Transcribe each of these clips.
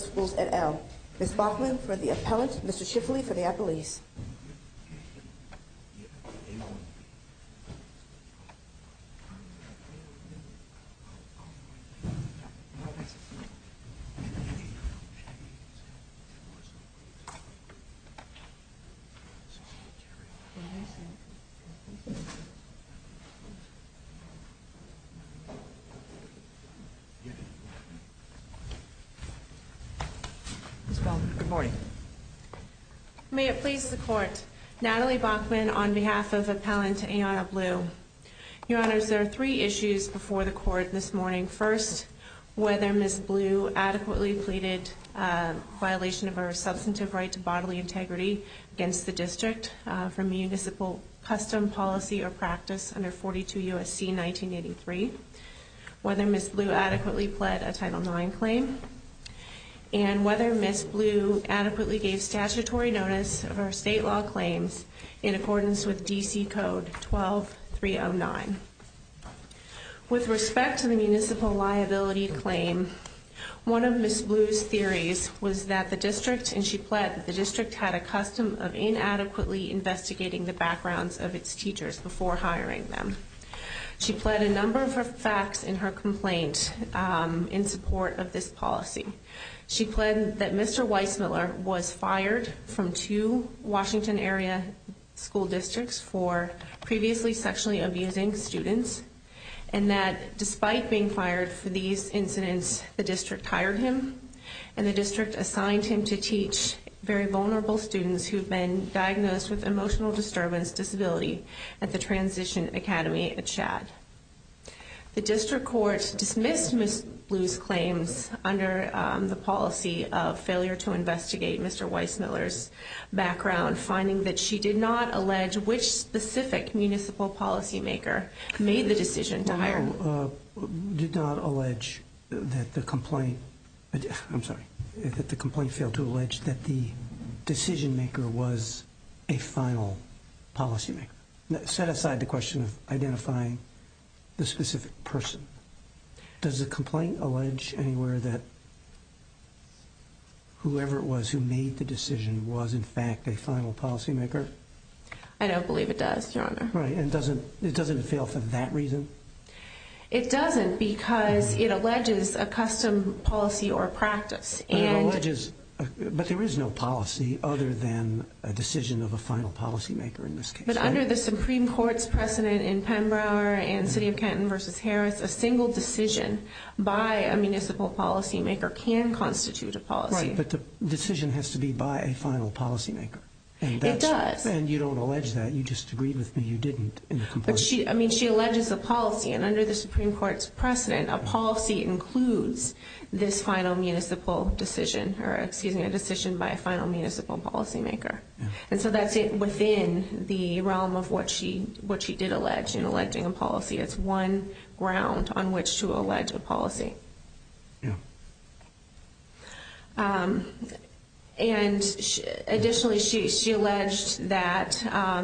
Schools et al. Ms. Bachman for the appellant, Mr. Shifley for the appellees. May it please the Court, Natalie Bachman on behalf of Appellant Ayanna Blue. Your Honors, there are three issues before the Court this morning. First, whether Ms. Blue adequately pleaded violation of her substantive right to bodily integrity against the District from municipal custom policy or practice under 42 U.S.C. 1983, whether Ms. Blue adequately pled a Title IX claim, and whether Ms. Blue adequately gave statutory notice of her state law claims in accordance with D.C. Code 12309. With respect to the municipal liability claim, one of Ms. Blue's theories was that the District, and she pled that the District had a custom of inadequately investigating the backgrounds of its teachers before hiring them. She pled a number of her facts in her complaint in support of this policy. She pled that Mr. Weissmuller was fired from two Washington area school districts for previously sexually abusing students, and that despite being fired for these incidents, the District hired him, and the District assigned him to teach very vulnerable students who have been diagnosed with emotional disturbance disability at the Transition Academy at Shad. The District Court dismissed Ms. Blue's claims under the policy of failure to investigate Mr. Weissmuller's background, finding that she did not allege which specific municipal policymaker made the decision to hire him. You did not allege that the complaint, I'm sorry, that the complaint failed to allege that the decision maker was a final policymaker. Set aside the question of identifying the specific person, does the complaint allege anywhere that whoever it was who made the decision was in fact a final policymaker? I don't believe it does, Your Honor. Right, and doesn't it fail for that reason? It doesn't, because it alleges a custom policy or practice, and... But it alleges, but there is no policy other than a decision of a final policymaker in this case, right? But under the Supreme Court's precedent in Pembroke and City of Canton v. Harris, a single decision by a municipal policymaker can constitute a policy. Right, but the decision has to be by a final policymaker. It does. And you don't allege that, you just agreed with me you didn't in the complaint. I mean, she alleges a policy, and under the Supreme Court's precedent, a policy includes this final municipal decision, or excuse me, a decision by a final municipal policymaker. And so that's within the realm of what she did allege in alleging a policy. It's one ground on which to allege a policy. Yeah. And additionally, she alleged that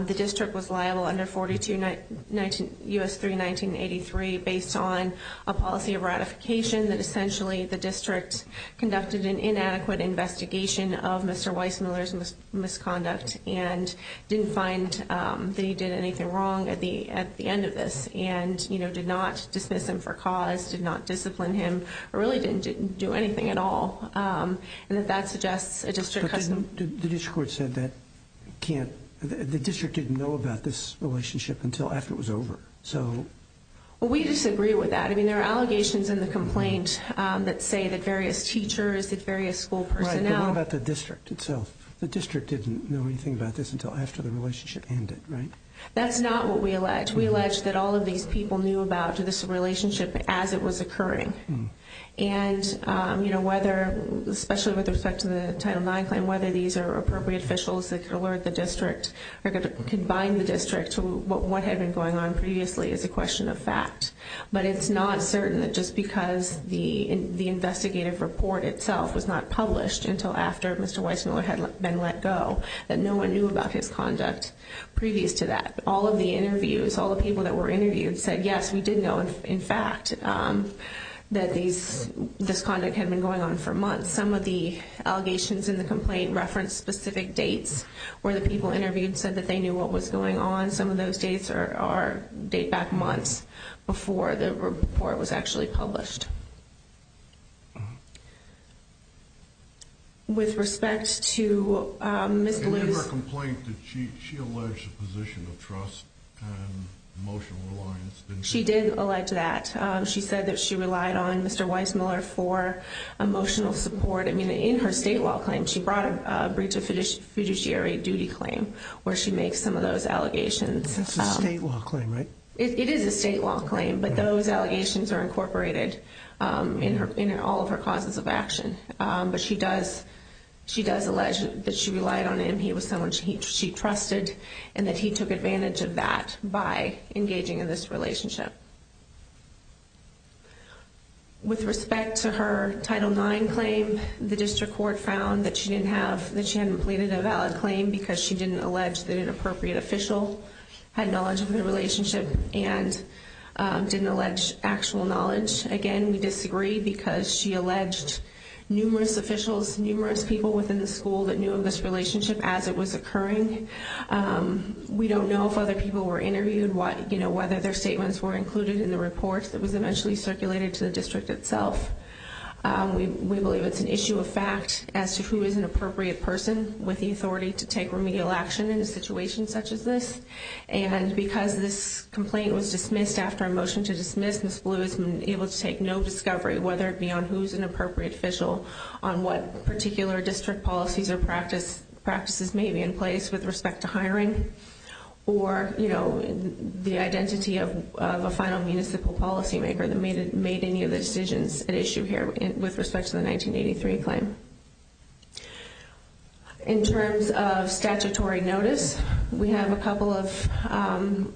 the district was liable under 42 U.S. 3 1983 based on a policy of ratification that essentially the district conducted an inadequate investigation of Mr. Weissmuller's misconduct and didn't find that he did anything wrong at the end of this and, you know, did not dismiss him for cause, did not discipline him, or really didn't do anything at all. And that that suggests a district custom. The district court said that the district didn't know about this relationship until after it was over. Well, we disagree with that. I mean, there are allegations in the complaint that say that various teachers, that various school personnel. Right, but what about the district itself? The district didn't know anything about this until after the relationship ended, right? That's not what we allege. We allege that all of these people knew about this relationship as it was occurring. And, you know, whether, especially with respect to the Title IX claim, whether these are appropriate officials that could alert the district or could bind the district to what had been going on previously is a question of fact. But it's not certain that just because the investigative report itself was not published until after Mr. Weissmuller had been let go, that no one knew about his conduct previous to that. All of the interviews, all the people that were interviewed said, yes, we did know, in fact, that this conduct had been going on for months. Some of the allegations in the complaint reference specific dates where the people interviewed said that they knew what was going on. Some of those dates are date back months before the report was actually published. With respect to Ms. Lewis... In her complaint, did she allege a position of trust and emotional reliance? She did allege that. She said that she relied on Mr. Weissmuller for emotional support. I mean, in her state law claim, she brought a breach of fiduciary duty claim where she makes some of those allegations. That's a state law claim, right? It is a state law claim, but those allegations are incorporated in all of her causes of action. But she does allege that she relied on him, he was someone she trusted, and that he took advantage of that by engaging in this relationship. With respect to her Title IX claim, the district court found that she hadn't completed a valid claim because she didn't allege that an appropriate official had knowledge of the relationship and didn't allege actual knowledge. Again, we disagree because she alleged numerous officials, numerous people within the school that knew of this relationship as it was occurring. We don't know if other people were interviewed, whether their statements were included in the report that was eventually circulated to the district itself. We believe it's an appropriate person with the authority to take remedial action in a situation such as this. And because this complaint was dismissed after a motion to dismiss, Ms. Blue has been able to take no discovery, whether it be on who's an appropriate official, on what particular district policies or practices may be in place with respect to hiring, or the identity of a final municipal policymaker that made any of the decisions at issue here with respect to the 1983 claim. In terms of statutory notice, we have a couple of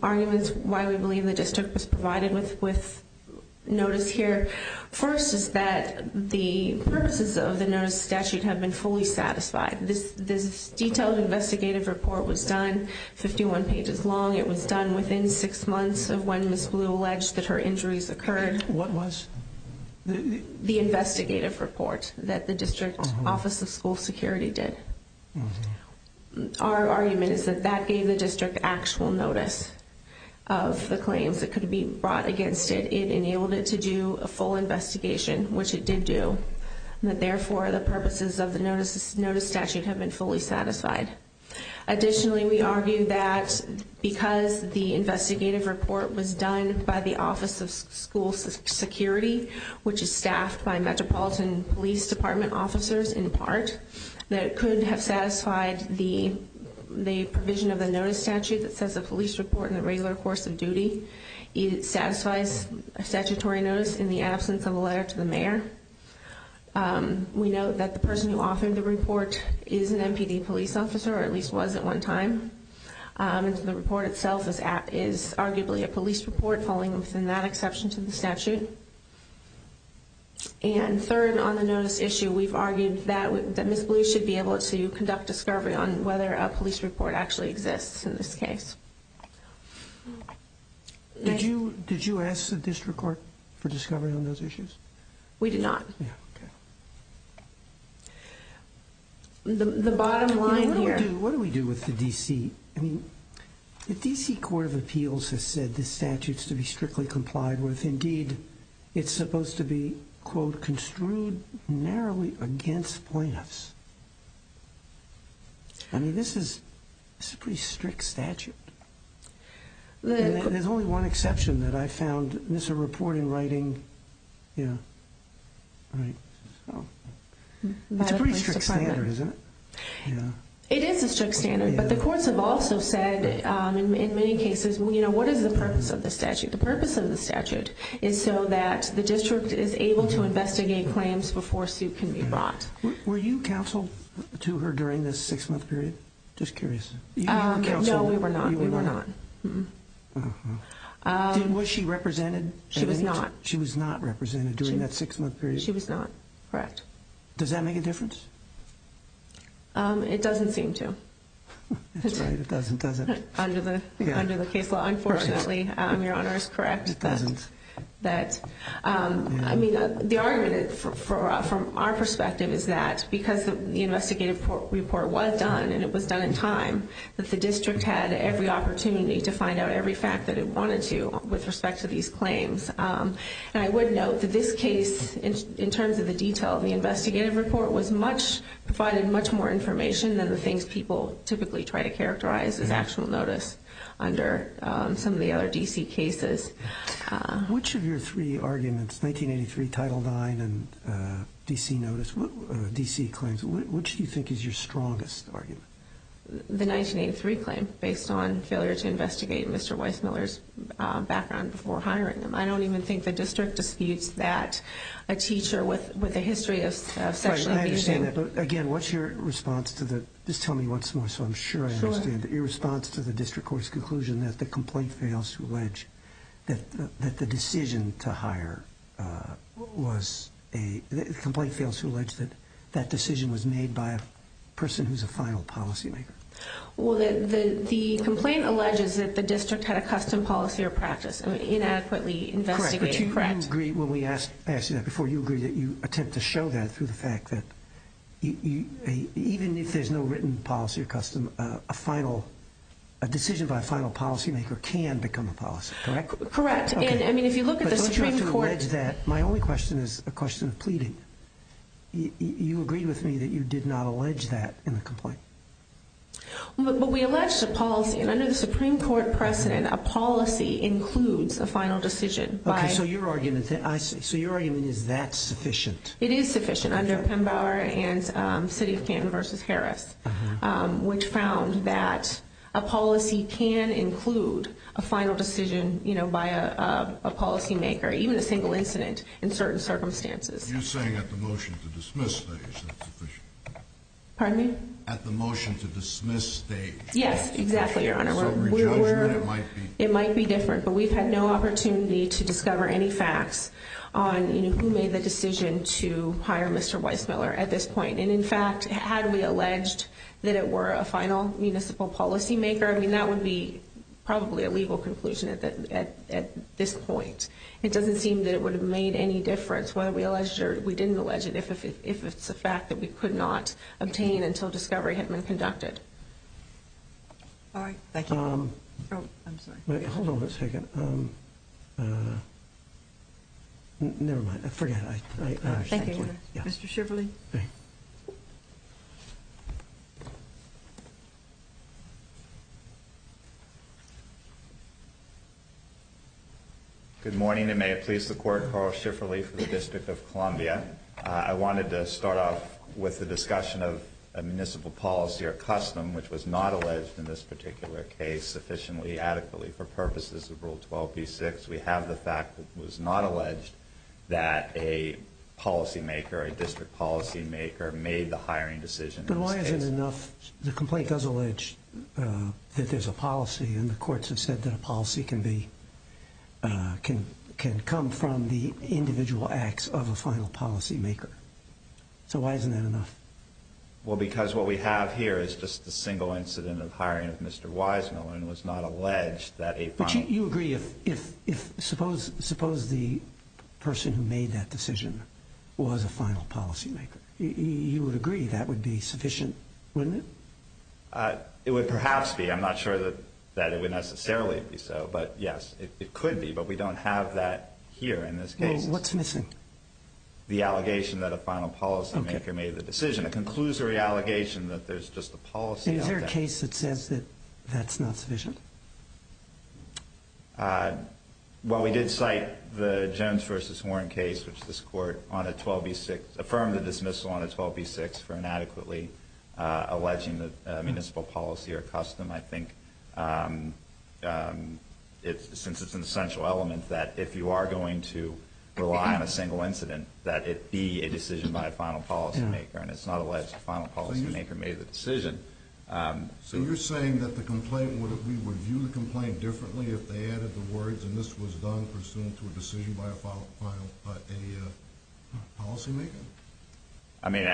arguments why we believe the district was provided with notice here. First is that the purposes of the notice of statute have been fully satisfied. This detailed investigative report was done, 51 pages long. It was done within six months of when Ms. Blue alleged that her injuries occurred. What was? The investigative report that the district office of school security did. Our argument is that that gave the district actual notice of the claims that could be brought against it. It enabled it to do a full investigation, which it did do. Therefore, the purposes of the notice statute have been fully satisfied. Additionally, we argue that because the investigative report was done by the office of school security, which is staffed by Metropolitan Police Department officers in part, that it could have satisfied the provision of the notice statute that says a police report in the regular course of duty. It satisfies a statutory notice in the absence of a letter to the mayor. We note that the person who authored the report is an NPD police officer, or at least was at one time. The report itself is arguably a police report, falling within that exception to the statute. And third, on the notice issue, we've argued that Ms. Blue should be able to conduct discovery on whether a police report actually exists in this case. Did you ask the district court for discovery on those issues? We did not. The bottom line here... What do we do with the D.C.? I mean, the D.C. Court of Appeals has said the statute's to be applied with, indeed, it's supposed to be, quote, construed narrowly against plaintiffs. I mean, this is a pretty strict statute. And there's only one exception that I found, and this is a report in writing. It's a pretty strict standard, isn't it? It is a strict standard, but the courts have also said, in many cases, you know, what is the purpose of the statute? The purpose of the statute is so that the district is able to investigate claims before a suit can be brought. Were you counseled to her during this six-month period? Just curious. No, we were not. Was she represented? She was not. She was not represented during that six-month period? She was not, correct. Does that make a difference? It doesn't seem to. That's right, it doesn't, does it? Under the case law, unfortunately, Your Honor is correct that, I mean, the argument from our perspective is that because the investigative report was done, and it was done in time, that the district had every opportunity to find out every fact that it wanted to with respect to these claims. And I would note that this case, in terms of the detail of the investigative report, was much, provided much more information than the things people typically try to characterize as actual notice under some of the other D.C. cases. Which of your three arguments, 1983, Title IX, and D.C. notice, D.C. claims, which do you think is your strongest argument? The 1983 claim, based on failure to investigate Mr. Weissmuller's background before hiring him. I don't even think the district disputes that a teacher with a history of sexual abuse I understand that, but again, what's your response to the, just tell me once more so I'm sure I understand, your response to the district court's conclusion that the complaint fails to allege that the decision to hire was a, the complaint fails to allege that that decision was made by a person who's a final policymaker? Well, the complaint alleges that the district had a custom policy or practice, I mean, inadequately investigated. Correct, but do you agree, when we asked you that before, do you agree that you attempt to show that through the fact that even if there's no written policy or custom, a final, a decision by a final policymaker can become a policy, correct? Correct, and I mean, if you look at the Supreme Court- But don't you have to allege that, my only question is a question of pleading. You agreed with me that you did not allege that in the complaint. But we allege the policy, and under the Supreme Court precedent, a policy includes a final decision by- Okay, so your argument, I see, so your argument is that's sufficient? It is sufficient, under Pembauer and City of Canton versus Harris, which found that a policy can include a final decision, you know, by a policymaker, even a single incident in certain circumstances. You're saying at the motion to dismiss stage, that's sufficient? Pardon me? At the motion to dismiss stage, that's sufficient? Yes, exactly, Your Honor. So re-judgment, it might be- It might be different, but we've had no opportunity to discover any facts on, you know, who made the decision to hire Mr. Weissmuller at this point. And in fact, had we alleged that it were a final municipal policymaker, I mean, that would be probably a legal conclusion at this point. It doesn't seem that it would have made any difference whether we alleged or we didn't allege it, if it's a fact that we could not obtain until discovery had been conducted. All right, thank you. Oh, I'm sorry. Wait, hold on a second. Never mind, forget it. Thank you, Your Honor. Mr. Schifferle. Good morning, and may it please the Court, Carl Schifferle for the District of Columbia. I wanted to start off with the discussion of a municipal policy or custom which was not alleged in this particular case sufficiently, adequately for purposes of Rule 12b-6. We have the fact that it was not alleged that a policymaker, a district policymaker, made the hiring decision in this case. But why isn't it enough? The complaint does allege that there's a policy, and the courts have said that a policy can be, can come from the individual acts of a final policymaker. So why isn't that enough? Well, because what we have here is just a single incident of hiring of Mr. Weissmuller and it was not alleged that a final... But you agree if, suppose the person who made that decision was a final policymaker, you would agree that would be sufficient, wouldn't it? It would perhaps be. I'm not sure that it would necessarily be so, but yes, it could be, but we don't have that here in this case. Well, what's missing? The allegation that a final policymaker made the decision. It concludes the re-allegation that there's just a policy out there. Is there a case that says that that's not sufficient? Well, we did cite the Jones v. Warren case, which this court on a 12b-6, affirmed the dismissal on a 12b-6 for inadequately alleging that municipal policy are custom. I think it's important, since it's an essential element, that if you are going to rely on a single incident, that it be a decision by a final policymaker, and it's not alleged that a final policymaker made the decision. So you're saying that the complaint, would we review the complaint differently if they added the words, and this was done pursuant to a decision by a policymaker? I mean,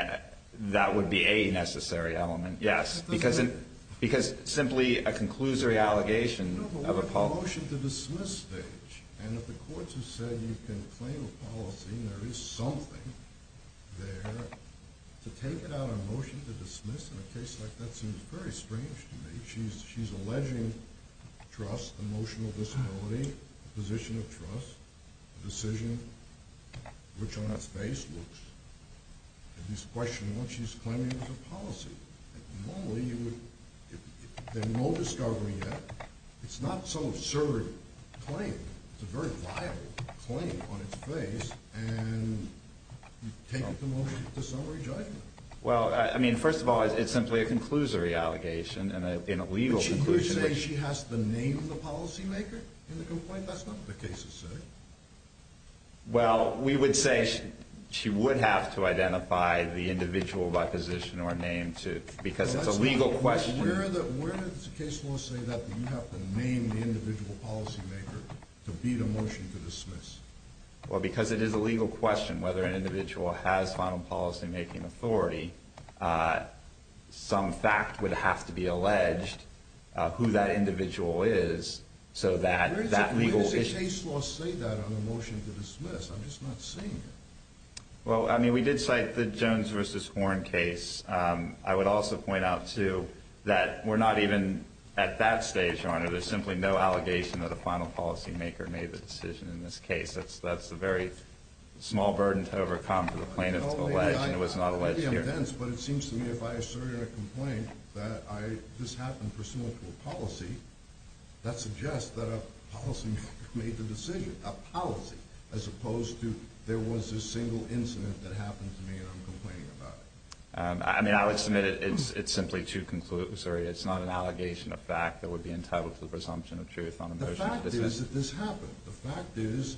that would be a necessary element, yes. Because simply a conclusive re-allegation of a policy... No, but what about the motion to dismiss stage? And if the courts have said you can claim a policy and there is something there, to take it out on a motion to dismiss in a case like that seems very strange to me. She's alleging trust, emotional disability, position of trust, a decision, which on its face looks, at least question what she's claiming as a policymaker. There's no discovery yet. It's not some absurd claim. It's a very viable claim on its face, and you take it to motion to summary judgment. Well, I mean, first of all, it's simply a conclusive re-allegation in a legal conclusion. But you're saying she has to name the policymaker in the complaint? That's not what the cases say. Well, we would say she would have to identify the individual by position or name, too, because that's a legal question. Where does the case law say that you have to name the individual policymaker to beat a motion to dismiss? Well, because it is a legal question whether an individual has final policymaking authority, some fact would have to be alleged, who that individual is, so that legal issue... Where does the case law say that on a motion to dismiss? I'm just not seeing it. Well, I mean, we did cite the Jones versus Horne case. I would also point out, too, that we're not even at that stage, Your Honor. There's simply no allegation that a final policymaker made the decision in this case. That's a very small burden to overcome for the plaintiff to allege, and it was not alleged here. Maybe I'm dense, but it seems to me if I assert in a complaint that this happened pursuant to a policy, that suggests that a policymaker made the decision, a policy, as opposed to there was a single incident that happened to me and I'm complaining about it. I mean, I would submit it's simply too conclusory. It's not an allegation of fact that would be entitled to the presumption of truth on a motion to dismiss. The fact is that this happened. The fact is,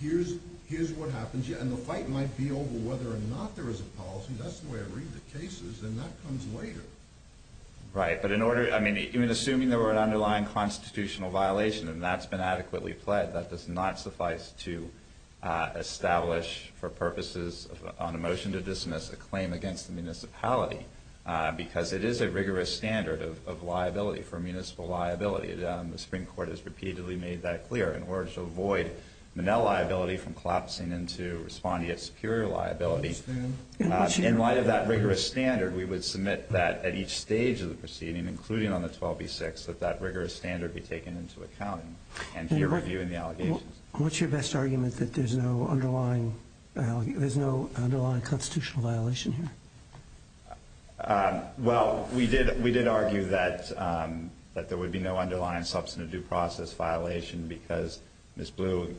here's what happens, and the fight might be over whether or not there is a policy. That's the way I read the cases, and that comes later. Right, but in order... I mean, even assuming there were an underlying constitutional violation and that's been adequately pled, that does not suffice to establish for purposes on a motion to dismiss a claim against the municipality, because it is a rigorous standard of liability for municipal liability. The Supreme Court has repeatedly made that clear in order to avoid Monell liability from collapsing into respondeat superior liability. I understand. In light of that rigorous standard, we would submit that at each stage of the proceeding, including on the 12b-6, that that rigorous standard be taken into account and peer review in the allegations. What's your best argument that there's no underlying constitutional violation here? Well, we did argue that there would be no underlying substantive due process violation because Ms. Blue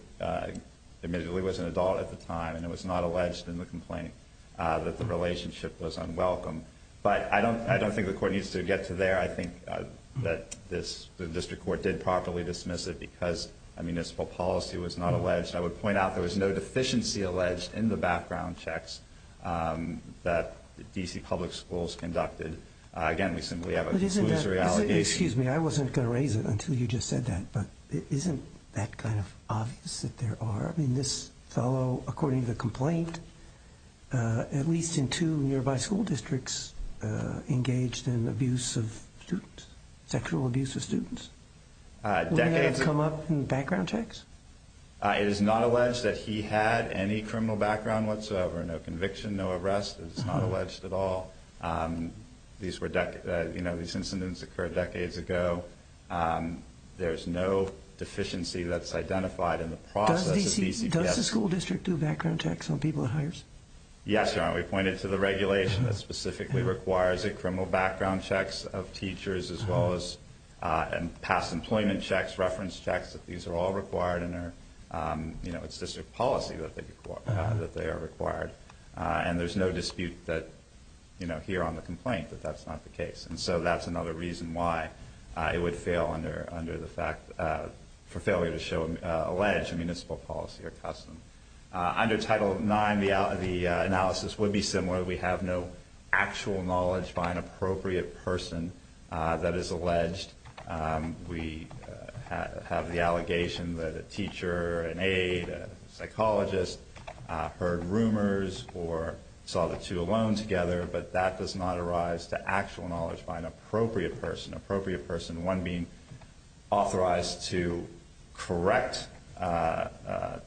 admittedly was an adult at the time and it was not alleged in the complaint that the relationship was unwelcome. But I don't think the court needs to get to there. I think that the district court did properly dismiss it because a municipal policy was not alleged. I would point out there was no deficiency alleged in the background checks that D.C. public schools conducted. Again, we simply have a conclusory allegation. Excuse me, I wasn't going to raise it until you just said that, but isn't that kind of obvious that there are? I mean, this fellow, according to the complaint, at least in two nearby school districts engaged in abuse of students, sexual abuse of students? Decades ago. Wouldn't that have come up in the background checks? It is not alleged that he had any criminal background whatsoever, no conviction, no arrest. It's not alleged at all. These incidents occurred decades ago. There's no deficiency that's identified in the process. Does the school district do background checks on people it hires? Yes, Your Honor. We pointed to the regulation that specifically requires a criminal background checks of teachers as well as past employment checks, reference checks. These are all required and it's district policy that they are required. And there's no dispute here on the complaint that that's not the case. And so that's another reason why it would fail under the fact for failure to show alleged municipal policy or custom. Under Title IX, the analysis would be similar. We have no actual knowledge by an appropriate person that is alleged. We have the allegation that a teacher, an aide, a psychologist heard rumors or saw the two alone together, but that does not arise to actual knowledge by an appropriate person. Appropriate person, one being authorized to correct,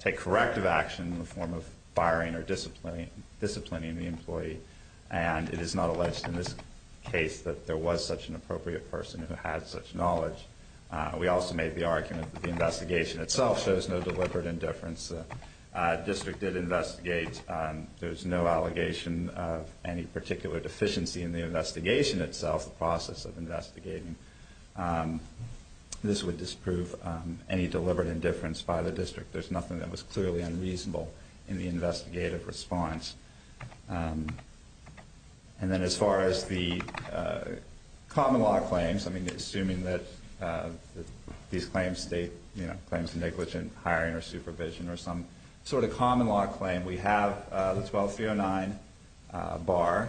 take corrective action in the form of firing or disciplining the employee. And it is not alleged in this case that there was such an appropriate person who had such knowledge. We also made the argument that the investigation itself shows no deliberate indifference. District did investigate. There's no allegation of any particular deficiency in the investigation itself, the process of investigating. This would disprove any deliberate indifference by the district. There's nothing that was clearly unreasonable in the investigative response. And then as far as the common law claims, I mean, assuming that these claims state claims of negligent hiring or supervision or some sort of common law claim, we have the 12309 bar,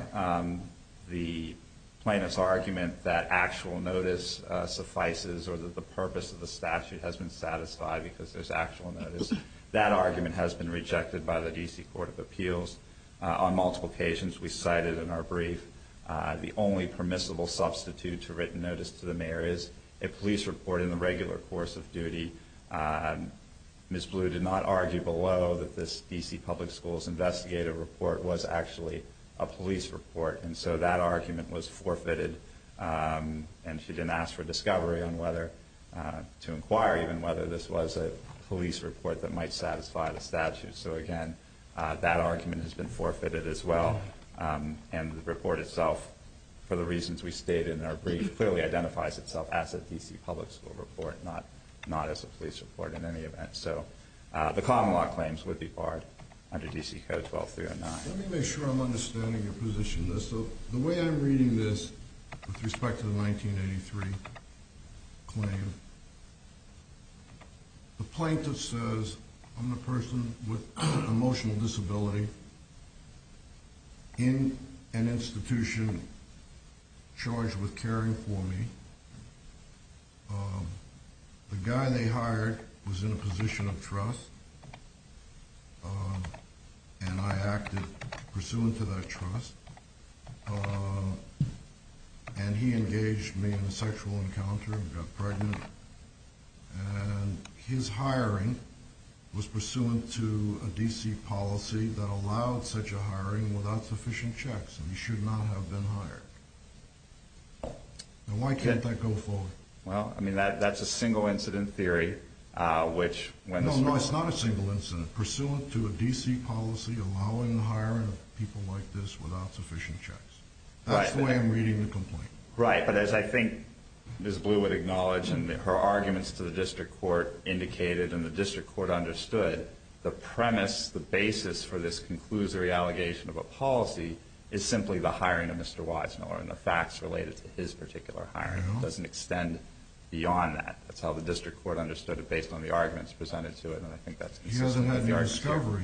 the plaintiff's argument that actual notice suffices or that the purpose of the statute has been satisfied because there's actual notice. That argument has been rejected by the D.C. Court of Appeals on multiple occasions. We cited in our brief the only permissible substitute to written notice to the mayor is a police report in the regular course of duty. Ms. Blue did not argue below that this D.C. Public Schools investigative report was actually a police report. And so that argument was forfeited. And she didn't ask for discovery on whether to inquire even whether this was a police report that might satisfy the statute. So, again, that argument has been forfeited as well. And the report itself, for the reasons we stated in our brief, clearly identifies itself as a D.C. Public School report, not as a police report in any event. So the common law claims would be barred under D.C. Code 12309. Let me make sure I'm understanding your position on this. So the way I'm reading this with respect to the 1983 claim, the plaintiff says, I'm the person with emotional disability in an institution charged with caring for me. The guy they hired was in a position of trust, and I acted pursuant to that trust. And he engaged me in a sexual encounter and got pregnant. And his hiring was pursuant to a D.C. policy that allowed such a hiring without sufficient checks, and he should not have been hired. Now, why can't that go forward? Well, I mean, that's a single-incident theory, which, when the... No, no, it's not a single incident. Pursuant to a D.C. policy allowing the hiring of people like this without sufficient checks. That's the way I'm reading the complaint. Right, but as I think Ms. Blue would acknowledge, and her arguments to the district court indicated and the district court understood, the premise, the basis for this conclusory allegation of a policy is simply the hiring of Mr. Weisenhoer and the facts related to his particular hiring. It doesn't extend beyond that. That's how the district court understood it based on the arguments presented to it, and I think that's consistent with the argument. He hasn't had the discovery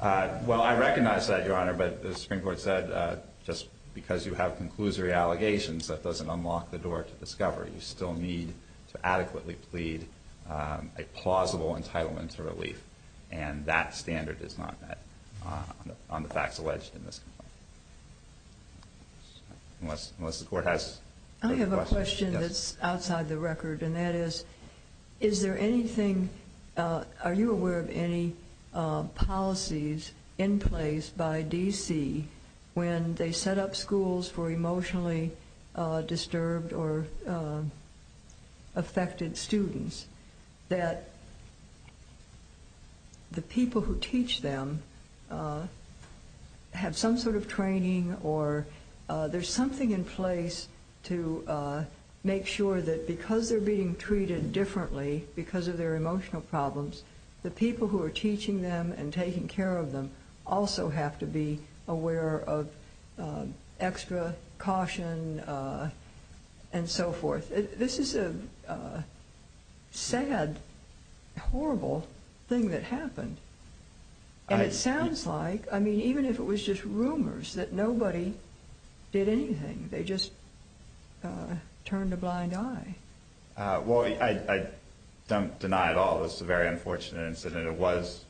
yet. Well, I recognize that, Your Honor, but as the Supreme Court said, just because you have conclusory allegations, that doesn't unlock the door to discovery. You still need to adequately plead a plausible entitlement to relief, and that standard is not met on the facts alleged in this complaint, unless the court has further questions. I have a question that's outside the record, and that is, is there anything... in place by D.C. when they set up schools for emotionally disturbed or affected students that the people who teach them have some sort of training, or there's something in place to make sure that because they're being treated differently because of their emotional problems, the people who are teaching them and taking care of them also have to be aware of extra caution and so forth? This is a sad, horrible thing that happened, and it sounds like, I mean, even if it was just rumors, that nobody did anything. They just turned a blind eye. Well, I don't deny at all this is a very unfortunate incident. It was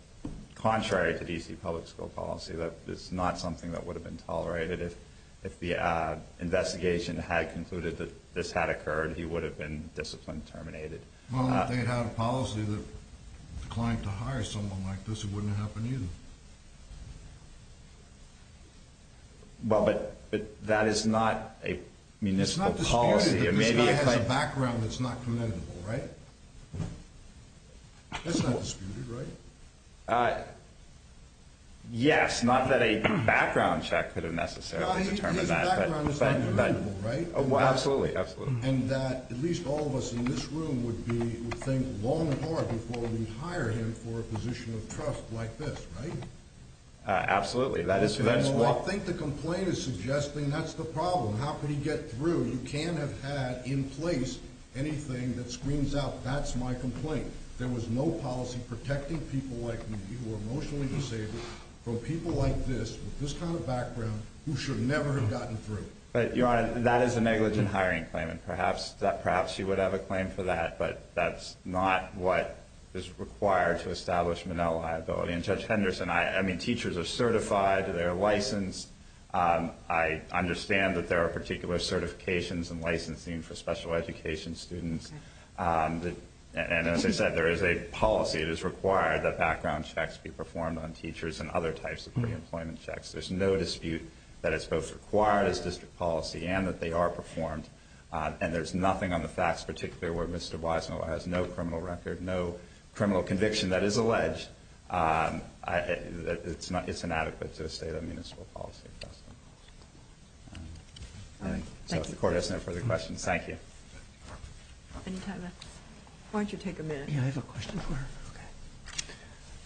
contrary to D.C. public school policy. That is not something that would have been tolerated. If the investigation had concluded that this had occurred, he would have been disciplined and terminated. Well, if they had a policy that declined to hire someone like this, it wouldn't have happened either. Well, but that is not a municipal policy. This guy has a background that's not commendable, right? That's not disputed, right? Yes, not that a background check could have necessarily determined that. His background is not commendable, right? Absolutely, absolutely. And that at least all of us in this room would think long and hard before we hire him for a position of trust like this, right? Absolutely. Well, I think the complaint is suggesting that's the problem. How could he get through? You can't have had in place anything that screams out, that's my complaint. There was no policy protecting people like me, who are emotionally disabled, from people like this, with this kind of background, who should never have gotten through. But, Your Honor, that is a negligent hiring claim, and perhaps she would have a claim for that, but that's not what is required to establish Monell liability. And Judge Henderson, I mean, teachers are certified, they're licensed. I understand that there are particular certifications and licensing for special education students. And as I said, there is a policy that is required that background checks be performed on teachers and other types of pre-employment checks. There's no dispute that it's both required as district policy and that they are performed. And there's nothing on the facts, particularly where Mr. Weisner has no criminal record, no criminal conviction that is alleged. It's inadequate to state a municipal policy. So if the Court has no further questions, thank you. Any time left? Why don't you take a minute? Yeah, I have a question for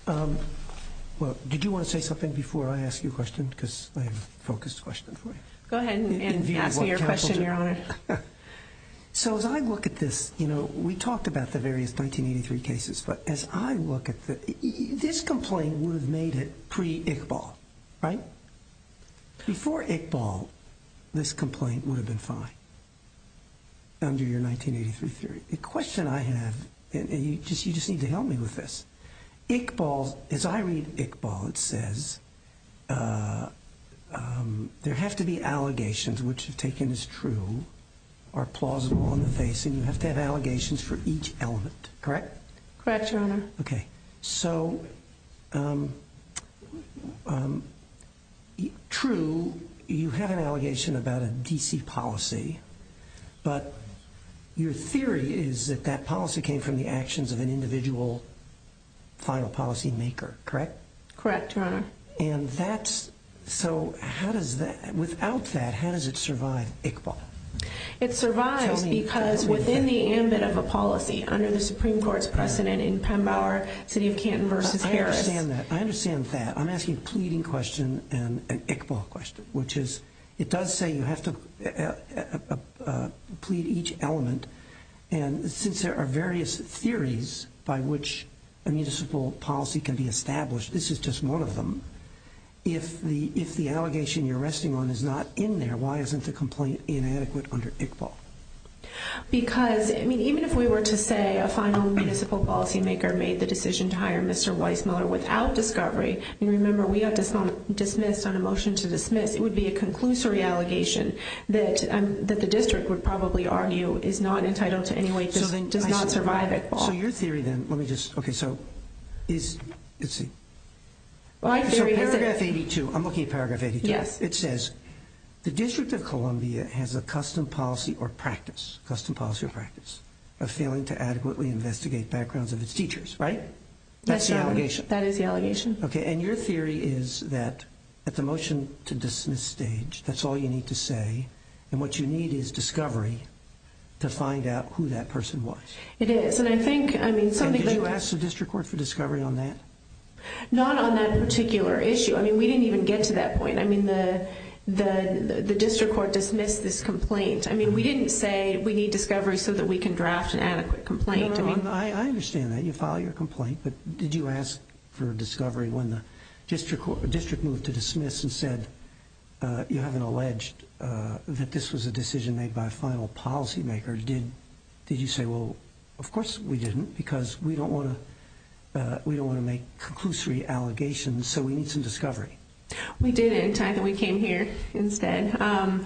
her. Well, did you want to say something before I ask you a question? Because I have a focused question for you. Go ahead and ask me your question, Your Honor. So as I look at this, you know, we talked about the various 1983 cases. But as I look at this, this complaint would have made it pre-Iqbal, right? Before Iqbal, this complaint would have been fine under your 1983 theory. The question I have, and you just need to help me with this. Iqbal, as I read Iqbal, it says there have to be allegations which, if taken as true, are plausible on the face. And you have to have allegations for each element, correct? Correct, Your Honor. Okay, so, true, you have an allegation about a D.C. policy. But your theory is that that policy came from the actions of an individual final policy maker, correct? Correct, Your Honor. And that's, so how does that, without that, how does it survive Iqbal? It survives because within the ambit of a policy, under the Supreme Court's precedent in Pembauer, City of Canton versus Harris. I understand that, I understand that. I'm asking a pleading question and an Iqbal question, which is, it does say you have to plead each element. And since there are various theories by which a municipal policy can be established, this is just one of them. If the allegation you're resting on is not in there, why isn't the complaint inadequate under Iqbal? Because, I mean, even if we were to say a final municipal policy maker made the decision to hire Mr. Weissmuller without discovery, and remember, we got dismissed on a motion to dismiss, it would be a conclusory allegation that the district would probably argue is not entitled to any way, does not survive Iqbal. So your theory then, let me just, okay, so, is, let's see. So paragraph 82, I'm looking at paragraph 82. Yes. It says, the District of Columbia has a custom policy or practice, custom policy or practice, of failing to adequately investigate backgrounds of its teachers, right? That's the allegation. That is the allegation. Okay, and your theory is that at the motion to dismiss stage, that's all you need to say, and what you need is discovery to find out who that person was. It is, and I think, I mean, something that you... And did you ask the district court for discovery on that? Not on that particular issue. I mean, we didn't even get to that point. I mean, the district court dismissed this complaint. I mean, we didn't say we need discovery so that we can draft an adequate complaint. No, no, no, I understand that. You filed your complaint, but did you ask for discovery when the district court, district moved to dismiss and said, you haven't alleged that this was a decision made by a final policy maker? Or did you say, well, of course we didn't because we don't want to make conclusory allegations, so we need some discovery. We didn't. We came here instead.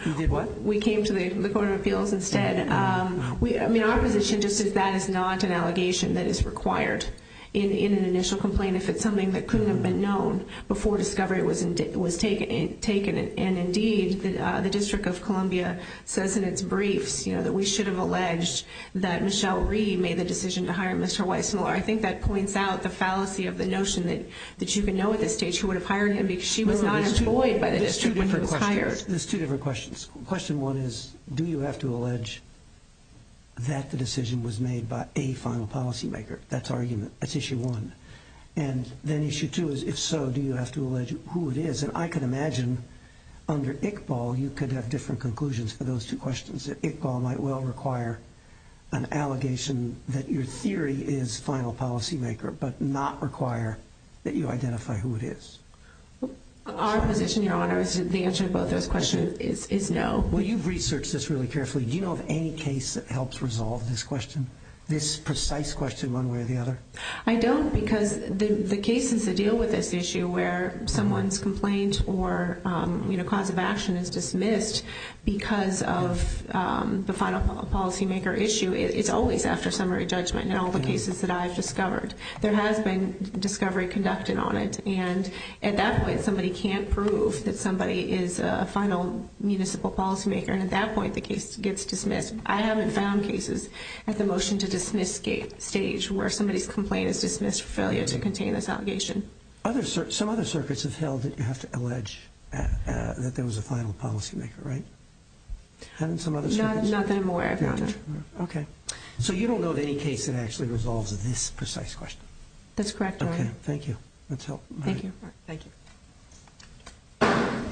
You did what? We came to the court of appeals instead. I mean, our position just is that is not an allegation that is required in an initial complaint if it's something that couldn't have been known before discovery was taken. And indeed, the District of Columbia says in its briefs, you know, that we should have alleged that Michelle Reed made the decision to hire Mr. Weisenler. I think that points out the fallacy of the notion that you can know at this stage who would have hired him because she was not employed by the district when he was hired. There's two different questions. Question one is, do you have to allege that the decision was made by a final policy maker? That's argument. That's issue one. And then issue two is, if so, do you have to allege who it is? And I can imagine under Iqbal you could have different conclusions for those two questions. Iqbal might well require an allegation that your theory is final policy maker but not require that you identify who it is. Our position, Your Honor, is the answer to both those questions is no. Well, you've researched this really carefully. Do you know of any case that helps resolve this question, this precise question one way or the other? I don't because the cases that deal with this issue where someone's complaint or cause of action is dismissed because of the final policy maker issue, it's always after summary judgment in all the cases that I've discovered. There has been discovery conducted on it. And at that point, somebody can't prove that somebody is a final municipal policy maker. And at that point, the case gets dismissed. I haven't found cases at the motion to dismiss stage where somebody's complaint is dismissed for failure to contain this allegation. Some other circuits have held that you have to allege that there was a final policy maker, right? Not that I'm aware of, Your Honor. Okay. So you don't know of any case that actually resolves this precise question? That's correct, Your Honor. Okay. Thank you. That's helpful. Thank you.